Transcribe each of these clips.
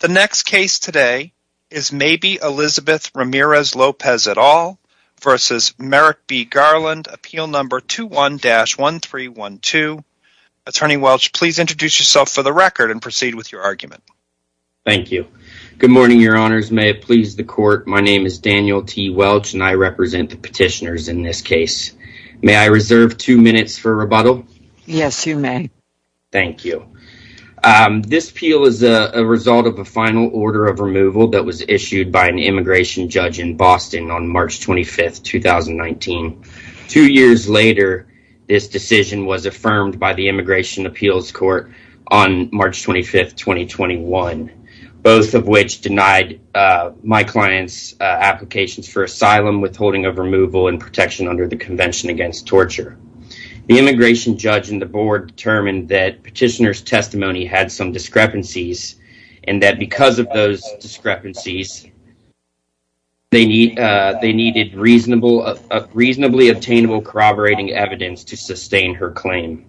The next case today is Maybe Elizabeth Ramirez-Lopez et al. v. Merrick B. Garland, appeal number 21-1312. Attorney Welch, please introduce yourself for the record and proceed with your argument. Thank you. Good morning, your honors. May it please the court, my name is Daniel T. Welch and I represent the petitioners in this case. May I reserve two minutes for rebuttal? Yes, you may. Thank you. This appeal is a result of a final order of removal that was issued by an immigration judge in Boston on March 25th, 2019. Two years later, this decision was affirmed by the Immigration Appeals Court on March 25th, 2021, both of which denied my client's applications for asylum, withholding of removal and protection under the Convention Against Torture. The immigration judge and the board determined that petitioner's testimony had some discrepancies, and that because of those discrepancies, they needed reasonably obtainable corroborating evidence to sustain her claim.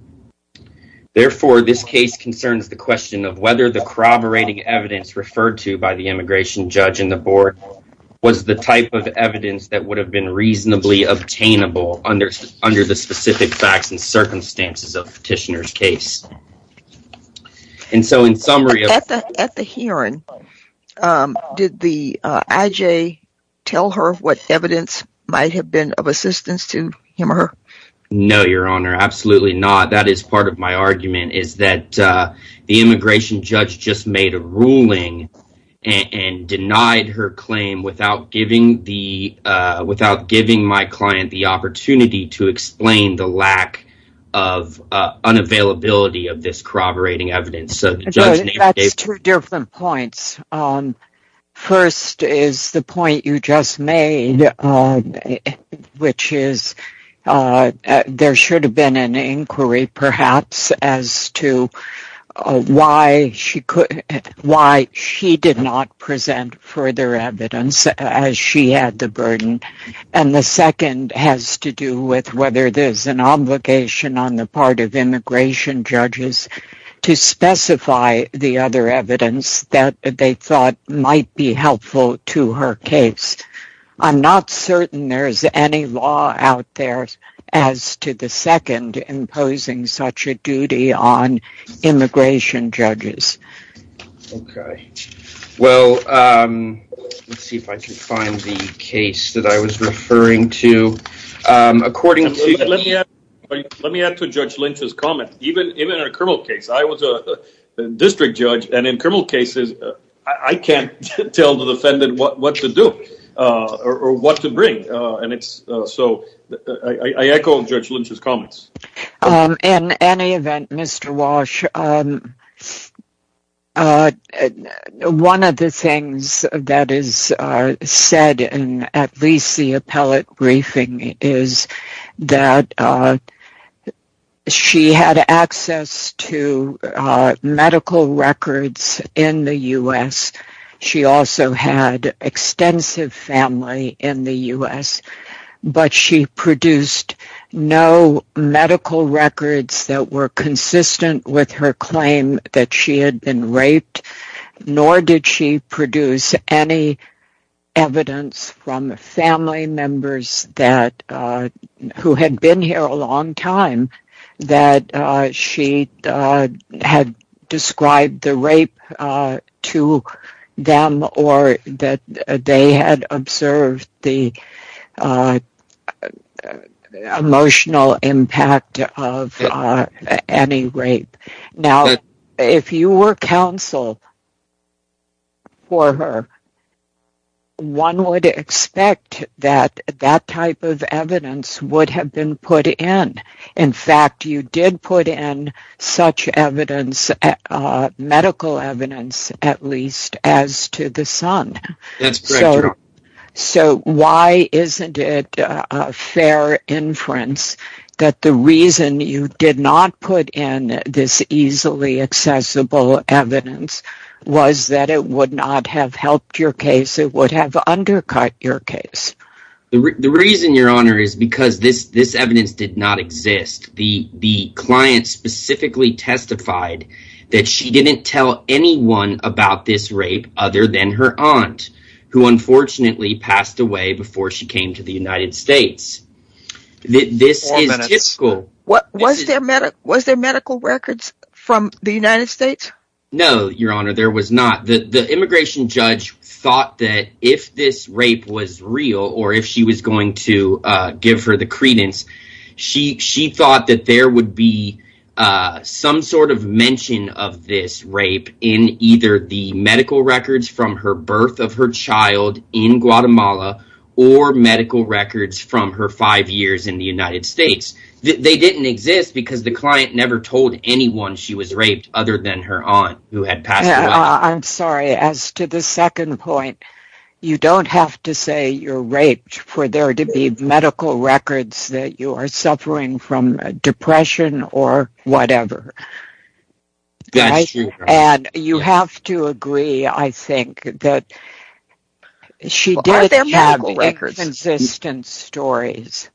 Therefore, this case concerns the question of whether the corroborating evidence referred to by the immigration judge and the board was the type of evidence that would have been reasonably obtainable under the specific facts and circumstances of petitioner's case. And so in summary... At the hearing, did the IJ tell her what evidence might have been of assistance to him or her? No, Your Honor, absolutely not. That is part of my argument, is that the immigration judge just made a ruling and denied her claim without giving my client the opportunity to explain the lack of unavailability of this corroborating evidence. That's two different points. First is the point you just made, which is there should have been an inquiry perhaps as to why she did not present further evidence as she had the burden. And the second has to do with whether there's an obligation on the part of immigration judges to specify the other evidence that they thought might be helpful to her case. I'm not certain there's any law out there as to the second imposing such a duty on immigration judges. Okay. Well, let's see if I can find the case that I was referring to. According to... Let me add to Judge Lynch's comment. Even in a criminal case, I was a district judge, and in criminal cases, I can't tell the defendant what to do or what to bring. So I echo Judge Lynch's comments. In any event, Mr. Walsh, one of the things that is said in at least the appellate briefing is that she had access to medical records in the U.S. She also had extensive family in the U.S., but she produced no medical records that were consistent with her claim that she had been raped, nor did she produce any evidence from family members who had been here a long time that she had described the rape to her family. Or that they had observed the emotional impact of any rape. Now, if you were counsel for her, one would expect that that type of evidence would have been put in. In fact, you did put in such medical evidence, at least, as to the son. So why isn't it fair inference that the reason you did not put in this easily accessible evidence was that it would not have helped your case? It would have undercut your case. The reason, Your Honor, is because this evidence did not exist. The client specifically testified that she didn't tell anyone about this rape other than her aunt, who unfortunately passed away before she came to the United States. Was there medical records from the United States? No, Your Honor, there was not. The immigration judge thought that if this rape was real or if she was going to give her the credence, she thought that there would be some sort of mention of this rape in either the medical records from her birth of her child in Guatemala or medical records from her five years in the United States. They didn't exist because the client never told anyone she was raped other than her aunt, who had passed away. I'm sorry. As to the second point, you don't have to say you're raped for there to be medical records that you are suffering from depression or whatever. That's true, Your Honor. And you have to agree, I think, that she did have inconsistent stories.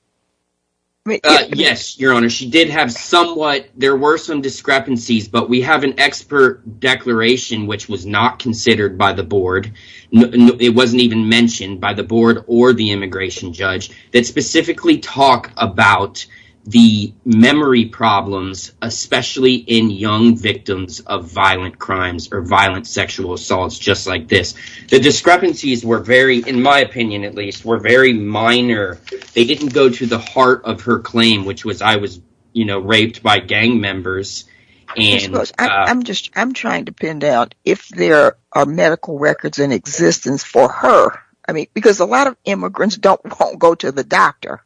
Yes, Your Honor, she did have somewhat. There were some discrepancies, but we have an expert declaration, which was not considered by the board. It wasn't even mentioned by the board or the immigration judge that specifically talk about the memory problems, especially in young victims of violent crimes or violent sexual assaults just like this. The discrepancies were very, in my opinion at least, were very minor. They didn't go to the heart of her claim, which was I was raped by gang members. I'm trying to pin down if there are medical records in existence for her, because a lot of immigrants don't go to the doctor.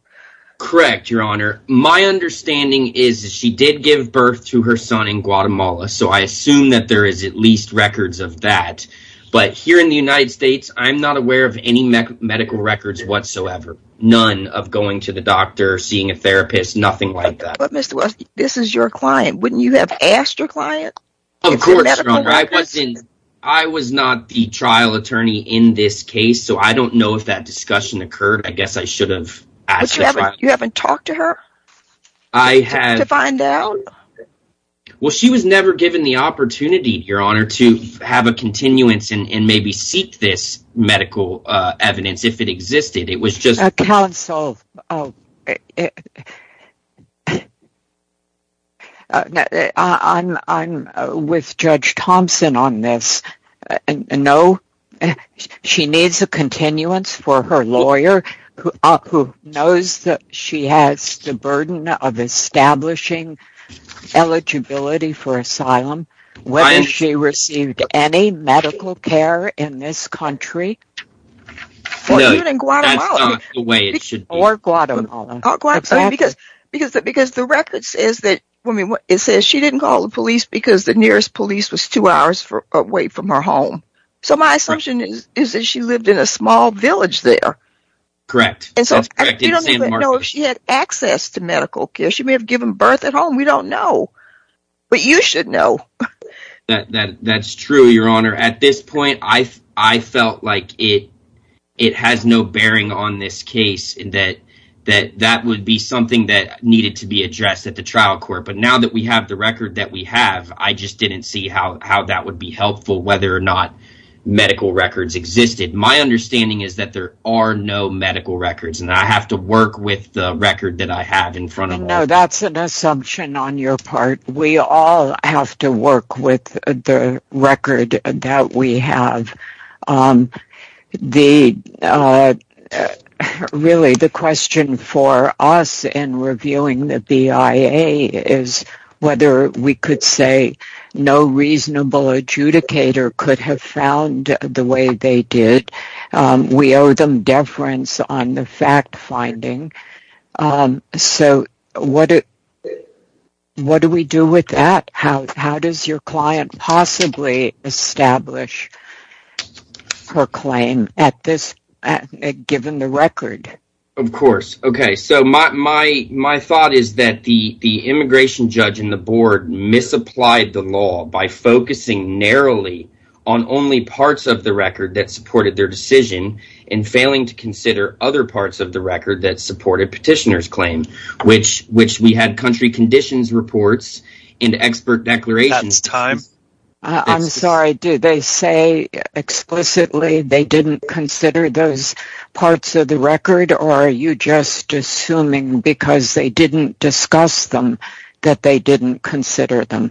Correct, Your Honor. My understanding is that she did give birth to her son in Guatemala, so I assume that there is at least records of that. But here in the United States, I'm not aware of any medical records whatsoever. None of going to the doctor, seeing a therapist, nothing like that. But Mr. West, this is your client. Wouldn't you have asked your client? Of course, Your Honor. I was not the trial attorney in this case, so I don't know if that discussion occurred. I guess I should have asked the trial attorney. But you haven't talked to her to find out? Well, she was never given the opportunity, Your Honor, to have a continuance and maybe seek this medical evidence if it existed. Counsel, I'm with Judge Thompson on this. No, she needs a continuance for her lawyer, who knows that she has the burden of establishing eligibility for asylum, whether she received any medical care in this country. No, that's not the way it should be. Or Guatemala. Because the record says that she didn't call the police because the nearest police was two hours away from her home. So my assumption is that she lived in a small village there. Correct. That's correct. In San Marcos. And so you don't even know if she had access to medical care. She may have given birth at home. We don't know. But you should know. That's true, Your Honor. At this point, I felt like it has no bearing on this case, that that would be something that needed to be addressed at the trial court. But now that we have the record that we have, I just didn't see how that would be helpful, whether or not medical records existed. My understanding is that there are no medical records, and I have to work with the record that I have in front of me. No, that's an assumption on your part. We all have to work with the record that we have. Really, the question for us in reviewing the BIA is whether we could say no reasonable adjudicator could have found the way they did. We owe them deference on the fact-finding. So what do we do with that? How does your client possibly establish her claim given the record? Of course. Okay. So my thought is that the immigration judge and the board misapplied the law by focusing narrowly on only parts of the record that supported their decision and failing to consider other parts of the record that supported petitioner's claim, which we had country conditions reports and expert declarations. I'm sorry. Did they say explicitly they didn't consider those parts of the record, or are you just assuming because they didn't discuss them that they didn't consider them?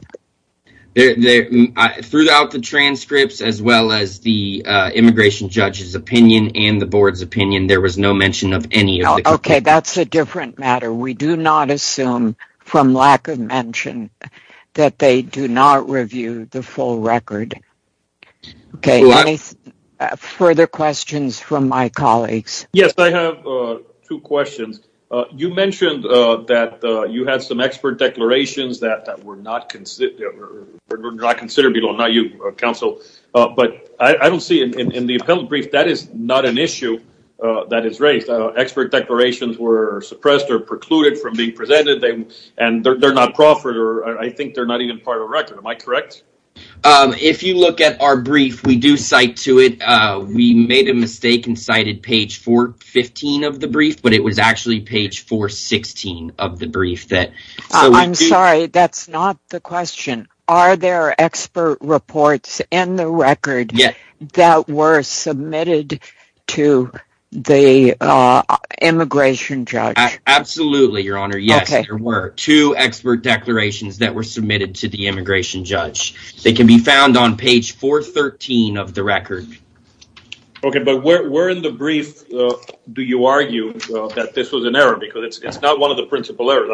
Throughout the transcripts, as well as the immigration judge's opinion and the board's opinion, there was no mention of any of it. Okay. That's a different matter. We do not assume from lack of mention that they do not review the full record. Okay. Any further questions from my colleagues? Yes, I have two questions. You mentioned that you had some expert declarations that were not considered. Not you, counsel. But I don't see in the appellate brief that is not an issue that is raised. Expert declarations were suppressed or precluded from being presented, and they're not proffered, or I think they're not even part of the record. Am I correct? If you look at our brief, we do cite to it. We made a mistake and cited page 415 of the brief, but it was actually page 416 of the brief. I'm sorry, that's not the question. Are there expert reports in the record that were submitted to the immigration judge? Absolutely, Your Honor. Yes, there were two expert declarations that were submitted to the immigration judge. They can be found on page 413 of the record. Okay, but where in the brief do you argue that this was an error? Because it's not one of the principal errors.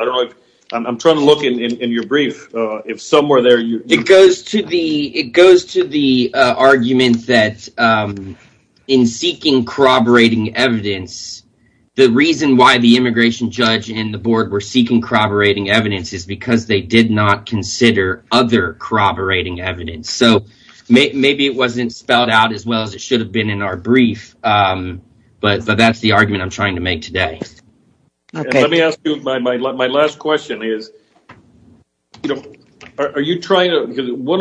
I'm trying to look in your brief. If somewhere there… It goes to the argument that in seeking corroborating evidence, the reason why the immigration judge and the board were seeking corroborating evidence is because they did not consider other corroborating evidence. So maybe it wasn't spelled out as well as it should have been in our brief, but that's the argument I'm trying to make today. Let me ask you my last question. One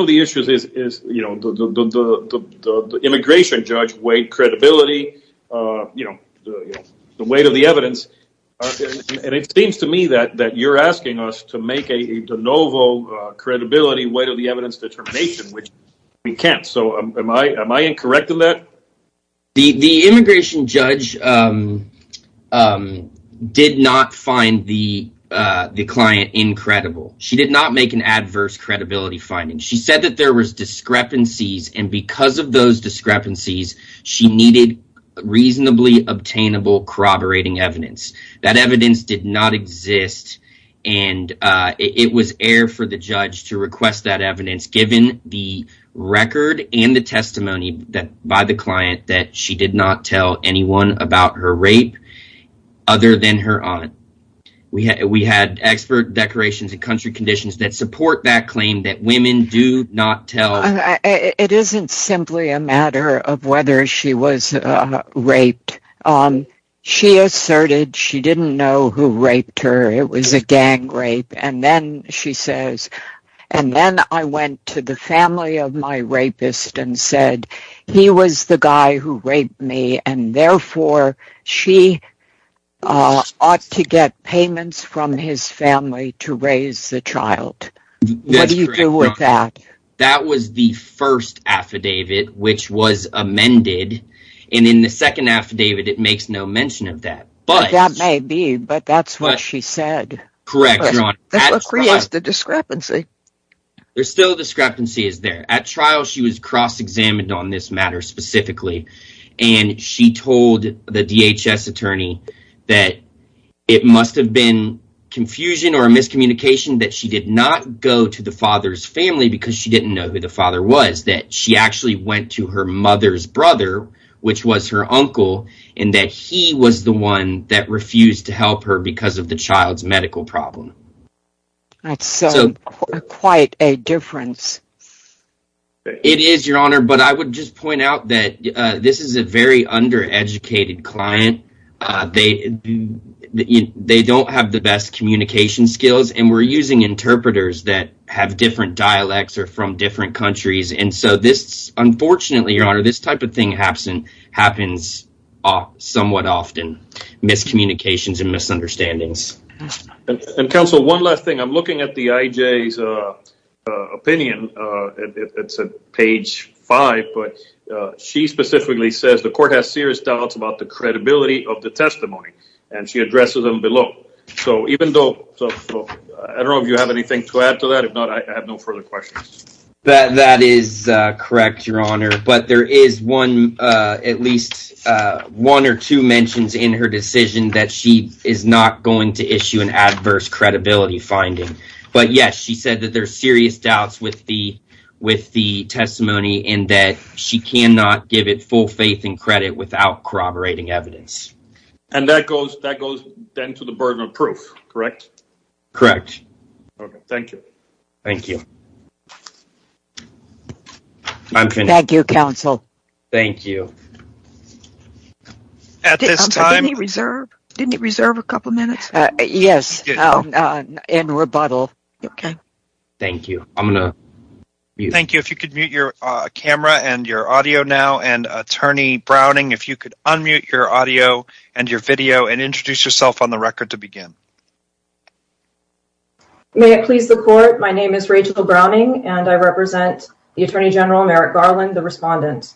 of the issues is the immigration judge weighed credibility, the weight of the evidence. It seems to me that you're asking us to make a de novo credibility weight of the evidence determination, which we can't. Am I incorrect in that? The immigration judge did not find the client incredible. She did not make an adverse credibility finding. She said that there was discrepancies, and because of those discrepancies, she needed reasonably obtainable corroborating evidence. That evidence did not exist, and it was air for the judge to request that evidence given the record and the testimony by the client that she did not tell anyone about her rape other than her aunt. We had expert declarations and country conditions that support that claim that women do not tell… …of whether she was raped. She asserted she didn't know who raped her. It was a gang rape, and then she says, and then I went to the family of my rapist and said, he was the guy who raped me, and therefore, she ought to get payments from his family to raise the child. What do you do with that? That was the first affidavit, which was amended, and in the second affidavit, it makes no mention of that. That may be, but that's what she said. Correct, Your Honor. That's what creates the discrepancy. There's still discrepancies there. At trial, she was cross-examined on this matter specifically, and she told the DHS attorney that it must have been confusion or miscommunication that she did not go to the father's family because she didn't know who the father was, that she actually went to her mother's brother, which was her uncle, and that he was the one that refused to help her because of the child's medical problem. That's quite a difference. It is, Your Honor, but I would just point out that this is a very undereducated client. They don't have the best communication skills, and we're using interpreters that have different dialects or from different countries, and so this, unfortunately, Your Honor, this type of thing happens somewhat often, miscommunications and misunderstandings. Counsel, one last thing. I'm looking at the IJ's opinion. It's on page 5, but she specifically says the court has serious doubts about the credibility of the testimony, and she addresses them below. I don't know if you have anything to add to that. If not, I have no further questions. That is correct, Your Honor, but there is at least one or two mentions in her decision that she is not going to issue an adverse credibility finding. But, yes, she said that there are serious doubts with the testimony and that she cannot give it full faith and credit without corroborating evidence. And that goes then to the burden of proof, correct? Correct. Okay, thank you. Thank you. I'm finished. Thank you, Counsel. Thank you. At this time... Didn't he reserve a couple minutes? Yes, in rebuttal. Okay. Thank you. Thank you. If you could mute your camera and your audio now, and Attorney Browning, if you could unmute your audio and your video and introduce yourself on the record to begin. May it please the court, my name is Rachel Browning, and I represent the Attorney General Merrick Garland, the respondent.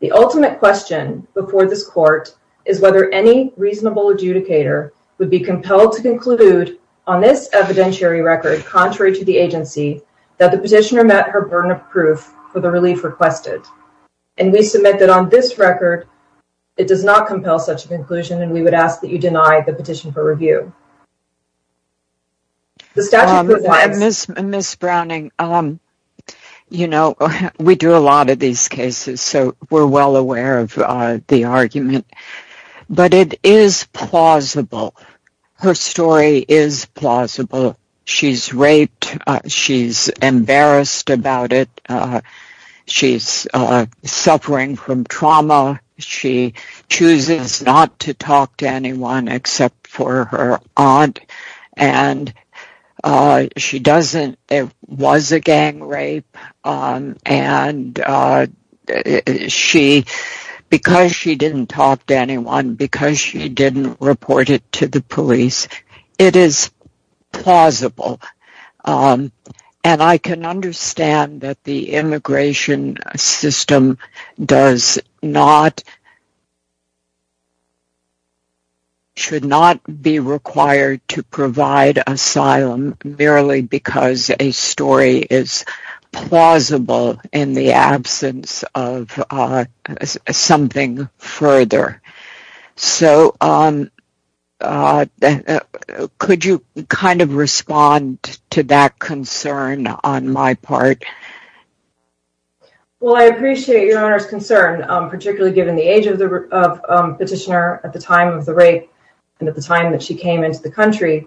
The ultimate question before this court is whether any reasonable adjudicator would be compelled to conclude on this evidentiary record, contrary to the agency, that the petitioner met her burden of proof for the relief requested. And we submit that on this record, it does not compel such a conclusion, and we would ask that you deny the petition for review. Ms. Browning, you know, we do a lot of these cases, so we're well aware of the argument. But it is plausible. Her story is plausible. She's raped, she's embarrassed about it, she's suffering from trauma, she chooses not to talk to anyone except for her aunt, and she doesn't... ...accept anyone because she didn't report it to the police. It is plausible. And I can understand that the immigration system should not be required to provide asylum merely because a story is plausible in the absence of something further. So, could you kind of respond to that concern on my part? Well, I appreciate Your Honor's concern, particularly given the age of the petitioner at the time of the rape, and at the time that she came into the country.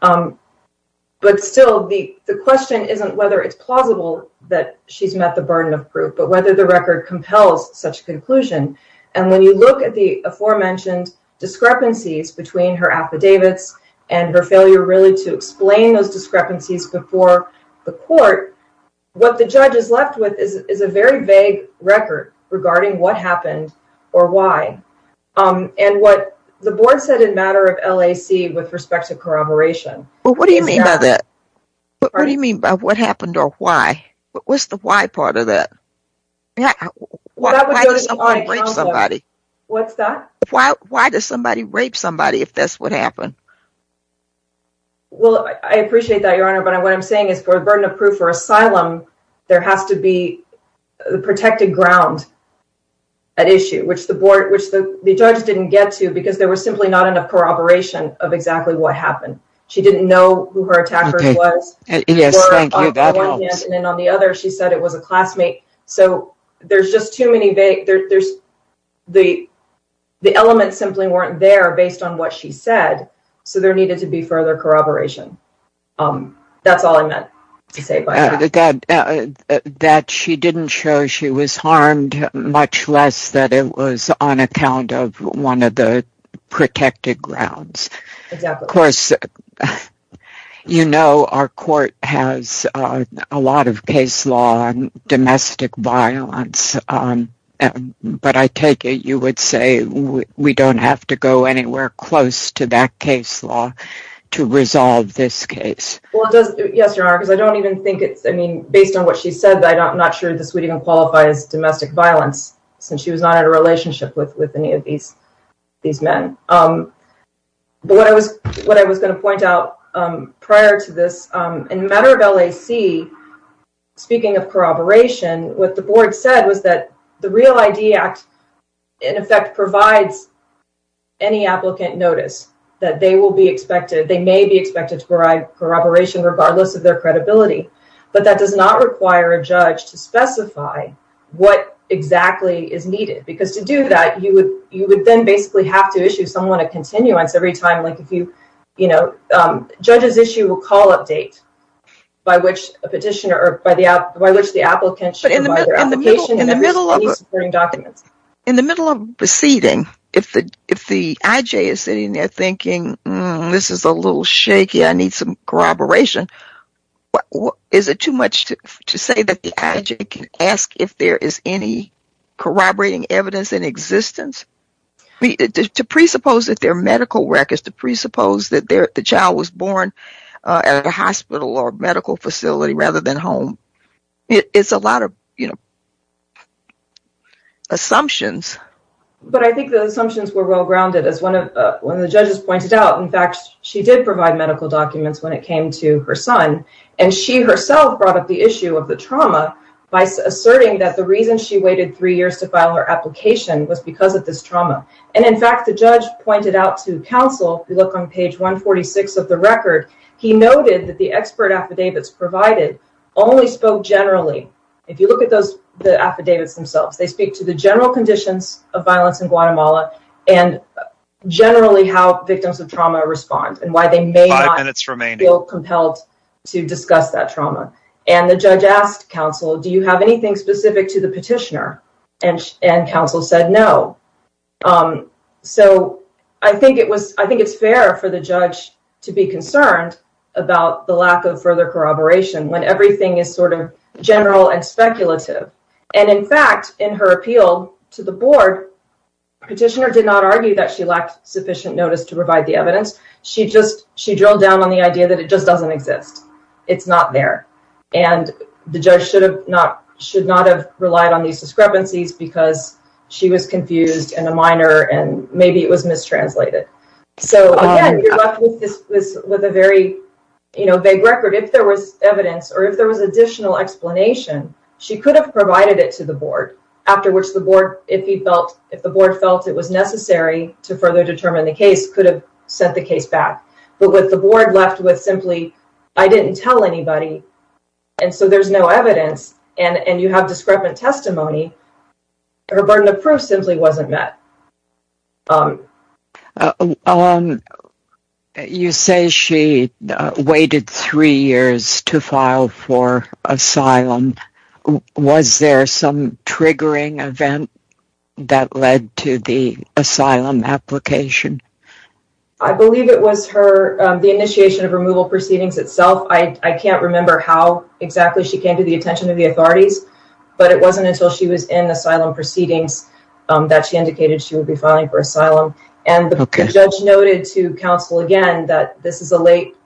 But still, the question isn't whether it's plausible that she's met the burden of proof, but whether the record compels such a conclusion. And when you look at the aforementioned discrepancies between her affidavits and her failure really to explain those discrepancies before the court, what the judge is left with is a very vague record regarding what happened or why. And what the board said in matter of LAC with respect to corroboration. Well, what do you mean by that? What do you mean by what happened or why? What's the why part of that? Why does someone rape somebody? What's that? Why does somebody rape somebody if that's what happened? Well, I appreciate that, Your Honor, but what I'm saying is for the burden of proof or asylum, there has to be protected ground at issue, which the board, which the judge didn't get to because there was simply not enough corroboration of exactly what happened. She didn't know who her attacker was. Yes, thank you. That helps. So there's just too many vague, there's the, the elements simply weren't there based on what she said. So there needed to be further corroboration. That's all I meant to say by that. That she didn't show she was harmed, much less that it was on account of one of the protected grounds. Of course, you know, our court has a lot of case law on domestic violence. But I take it you would say we don't have to go anywhere close to that case law to resolve this case. Yes, Your Honor, because I don't even think it's, I mean, based on what she said, I'm not sure this would even qualify as domestic violence, since she was not in a relationship with any of these men. But what I was, what I was going to point out prior to this, in matter of LAC, speaking of corroboration, what the board said was that the Real ID Act, in effect, provides any applicant notice that they will be expected, they may be expected to provide corroboration regardless of their credibility. But that does not require a judge to specify what exactly is needed. Because to do that, you would then basically have to issue someone a continuance every time, like if you, you know, judges issue a call-up date by which a petitioner or by which the applicant should provide their application and any supporting documents. In the middle of proceeding, if the IJ is sitting there thinking, this is a little shaky, I need some corroboration, is it too much to say that the IJ can ask if there is any corroborating evidence in existence? To presuppose that there are medical records, to presuppose that the child was born at a hospital or medical facility rather than home, it's a lot of, you know, assumptions. But I think the assumptions were well-grounded, as one of the judges pointed out. In fact, she did provide medical documents when it came to her son, and she herself brought up the issue of the trauma by asserting that the reason she waited three years to file her application was because of this trauma. And in fact, the judge pointed out to counsel, if you look on page 146 of the record, he noted that the expert affidavits provided only spoke generally. If you look at the affidavits themselves, they speak to the general conditions of violence in Guatemala and generally how victims of trauma respond and why they may not feel compelled to discuss that trauma. And the judge asked counsel, do you have anything specific to the petitioner? And counsel said no. So I think it's fair for the judge to be concerned about the lack of further corroboration when everything is sort of general and speculative. And in fact, in her appeal to the board, petitioner did not argue that she lacked sufficient notice to provide the evidence. She just she drilled down on the idea that it just doesn't exist. It's not there. And the judge should have not should not have relied on these discrepancies because she was confused and a minor and maybe it was mistranslated. So this was with a very vague record. If there was evidence or if there was additional explanation, she could have provided it to the board after which the board, if he felt if the board felt it was necessary to further determine the case, could have sent the case back. But with the board left with simply, I didn't tell anybody. And so there's no evidence. And you have discrepant testimony. Her burden of proof simply wasn't met. You say she waited three years to file for asylum. Was there some triggering event that led to the asylum application? I believe it was her the initiation of removal proceedings itself. I can't remember how exactly she came to the attention of the authorities, but it wasn't until she was in asylum proceedings that she indicated she would be filing for asylum. And the judge noted to counsel again that this is a late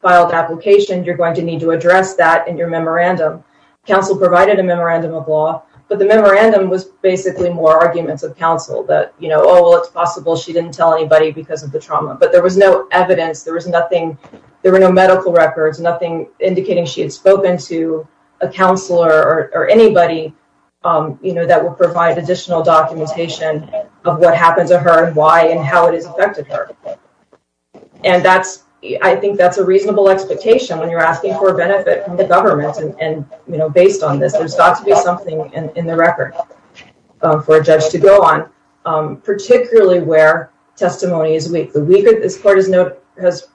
filed application. You're going to need to address that in your memorandum. Counsel provided a memorandum of law, but the memorandum was basically more arguments of counsel that, you know, oh, well, it's possible. She didn't tell anybody because of the trauma, but there was no evidence. There was nothing. There were no medical records, nothing indicating she had spoken to a counselor or anybody, you know, that will provide additional documentation of what happened to her and why and how it has affected her. And that's I think that's a reasonable expectation when you're asking for a benefit from the government. And, you know, based on this, there's got to be something in the record for a judge to go on, particularly where testimony is weak. This court has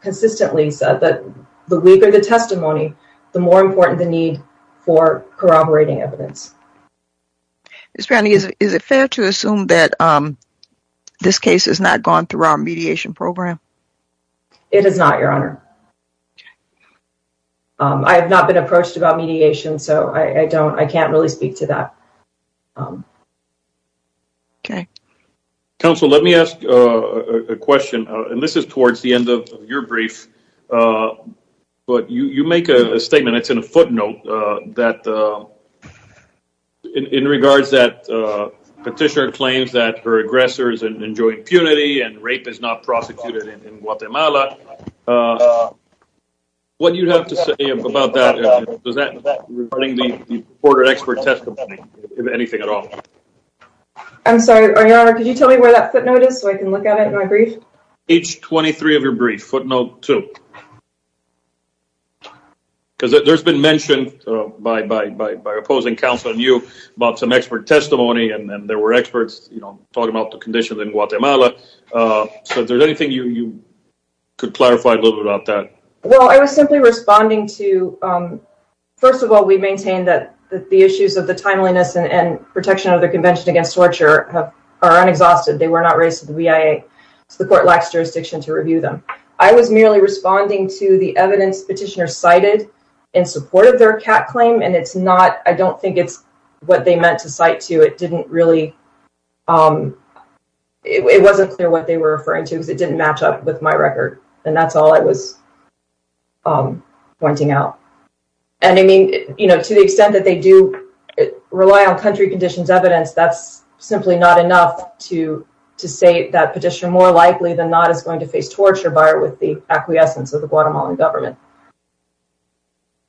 consistently said that the weaker the testimony, the more important the need for corroborating evidence. Is it fair to assume that this case has not gone through our mediation program? It is not, Your Honor. I have not been approached about mediation, so I don't I can't really speak to that. OK. Counsel, let me ask a question, and this is towards the end of your brief, but you make a statement. It's in a footnote that in regards that petitioner claims that her aggressors enjoy impunity and rape is not prosecuted in Guatemala. What do you have to say about that? Does that regarding the border expert testimony, anything at all? I'm sorry, Your Honor, could you tell me where that footnote is so I can look at it in my brief? Page 23 of your brief, footnote two. Because there's been mentioned by opposing counsel and you about some expert testimony and there were experts talking about the conditions in Guatemala. So is there anything you could clarify a little bit about that? Well, I was simply responding to, first of all, we maintain that the issues of the timeliness and protection of the Convention against Torture are unexhausted. They were not raised to the BIA. The court lacks jurisdiction to review them. I was merely responding to the evidence petitioner cited in support of their cat claim, and it's not I don't think it's what they meant to cite to. It didn't really it wasn't clear what they were referring to because it didn't match up with my record. And that's all I was pointing out. And I mean, you know, to the extent that they do rely on country conditions evidence, that's simply not enough to to say that petitioner more likely than not is going to face torture by or with the acquiescence of the Guatemalan government.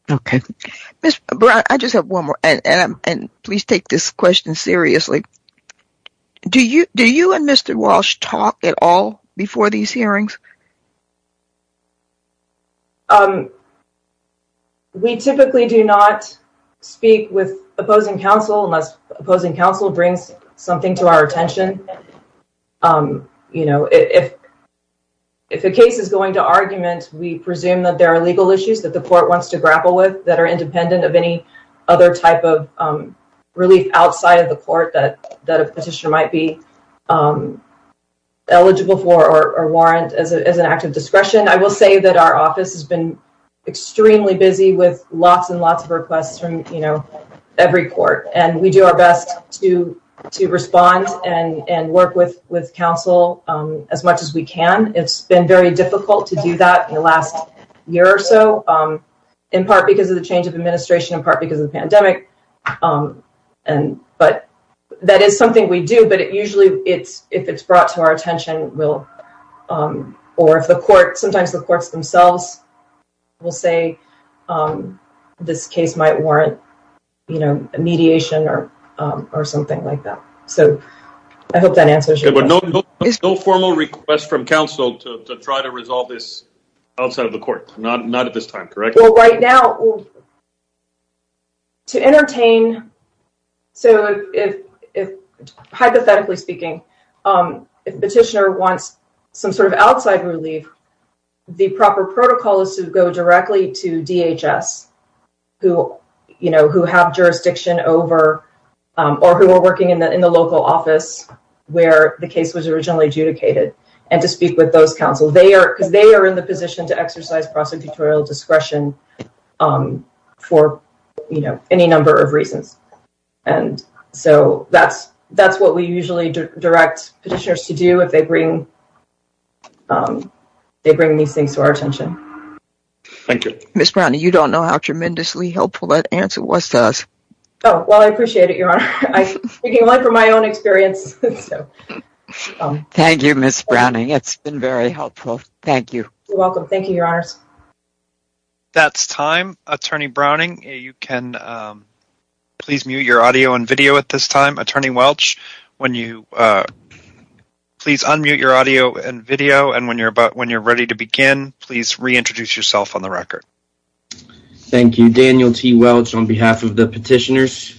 OK, Miss Brown, I just have one more and please take this question seriously. Do you do you and Mr. Walsh talk at all before these hearings? We typically do not speak with opposing counsel unless opposing counsel brings something to our attention. You know, if if a case is going to argument, we presume that there are legal issues that the court wants to grapple with that are independent of any other type of relief outside of the court that that a petitioner might be eligible for or warrant as an act of discretion. I will say that our office has been extremely busy with lots and lots of requests from every court and we do our best to to respond and work with with counsel as much as we can. It's been very difficult to do that in the last year or so, in part because of the change of administration, in part because of the pandemic. And but that is something we do. But it usually it's if it's brought to our attention, we'll or if the court, sometimes the courts themselves will say this case might warrant mediation or or something like that. So I hope that answers your formal request from counsel to try to resolve this outside of the court. Not not at this time. Correct. Right now. To entertain. So if hypothetically speaking, petitioner wants some sort of outside relief, the proper protocol is to go directly to DHS who, you know, who have jurisdiction over or who are working in the in the local office where the case was originally adjudicated and to speak with those counsel. They are because they are in the position to exercise prosecutorial discretion for any number of reasons. And so that's that's what we usually direct petitioners to do if they bring they bring these things to our attention. Thank you, Miss Brown. You don't know how tremendously helpful that answer was to us. Oh, well, I appreciate it. You're speaking for my own experience. Thank you, Miss Browning. It's been very helpful. Thank you. Welcome. Thank you, Your Honors. That's time. Attorney Browning, you can please mute your audio and video at this time. Attorney Welch, when you please unmute your audio and video. And when you're about when you're ready to begin, please reintroduce yourself on the record. Thank you, Daniel T. Welch, on behalf of the petitioners.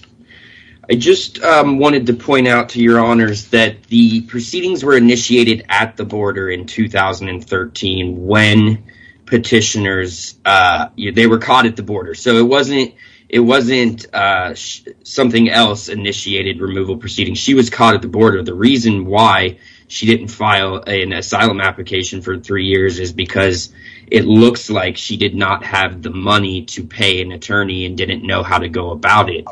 I just wanted to point out to your honors that the proceedings were initiated at the border in 2013 when petitioners they were caught at the border. So it wasn't it wasn't something else initiated removal proceedings. She was caught at the border. The reason why she didn't file an asylum application for three years is because it looks like she did not have the money to pay an attorney and didn't know how to go about it.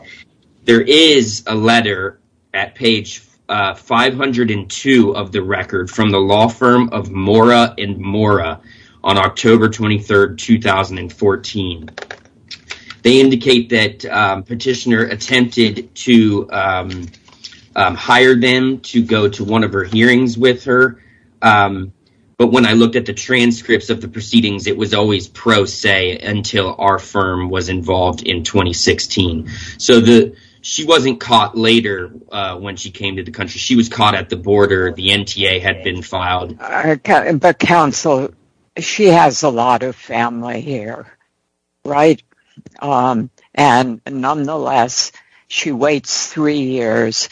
There is a letter at page 502 of the record from the law firm of Mora and Mora on October 23rd, 2014. They indicate that petitioner attempted to hire them to go to one of her hearings with her. But when I looked at the transcripts of the proceedings, it was always pro se until our firm was involved in 2016. So she wasn't caught later when she came to the country. She was caught at the border. The NTA had been filed. But counsel, she has a lot of family here, right? And nonetheless, she waits three years,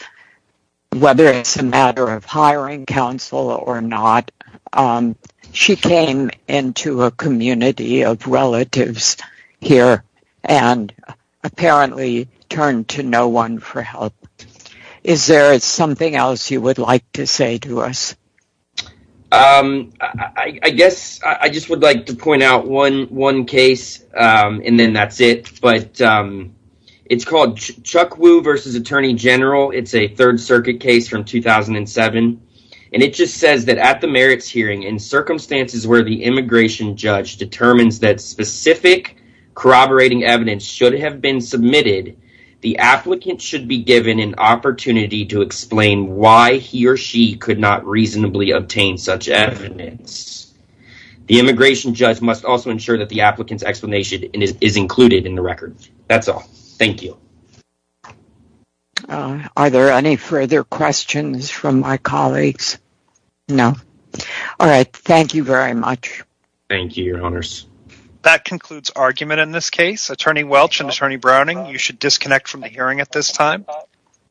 whether it's a matter of hiring counsel or not. She came into a community of relatives here and apparently turned to no one for help. Is there something else you would like to say to us? I guess I just would like to point out one one case and then that's it. But it's called Chuck Wu versus Attorney General. It's a Third Circuit case from 2007. And it just says that at the merits hearing in circumstances where the immigration judge determines that specific corroborating evidence should have been submitted. The applicant should be given an opportunity to explain why he or she could not reasonably obtain such evidence. The immigration judge must also ensure that the applicant's explanation is included in the record. That's all. Thank you. Are there any further questions from my colleagues? No. All right. Thank you very much. Thank you. That concludes argument in this case. Attorney Welch and Attorney Browning, you should disconnect from the hearing at this time.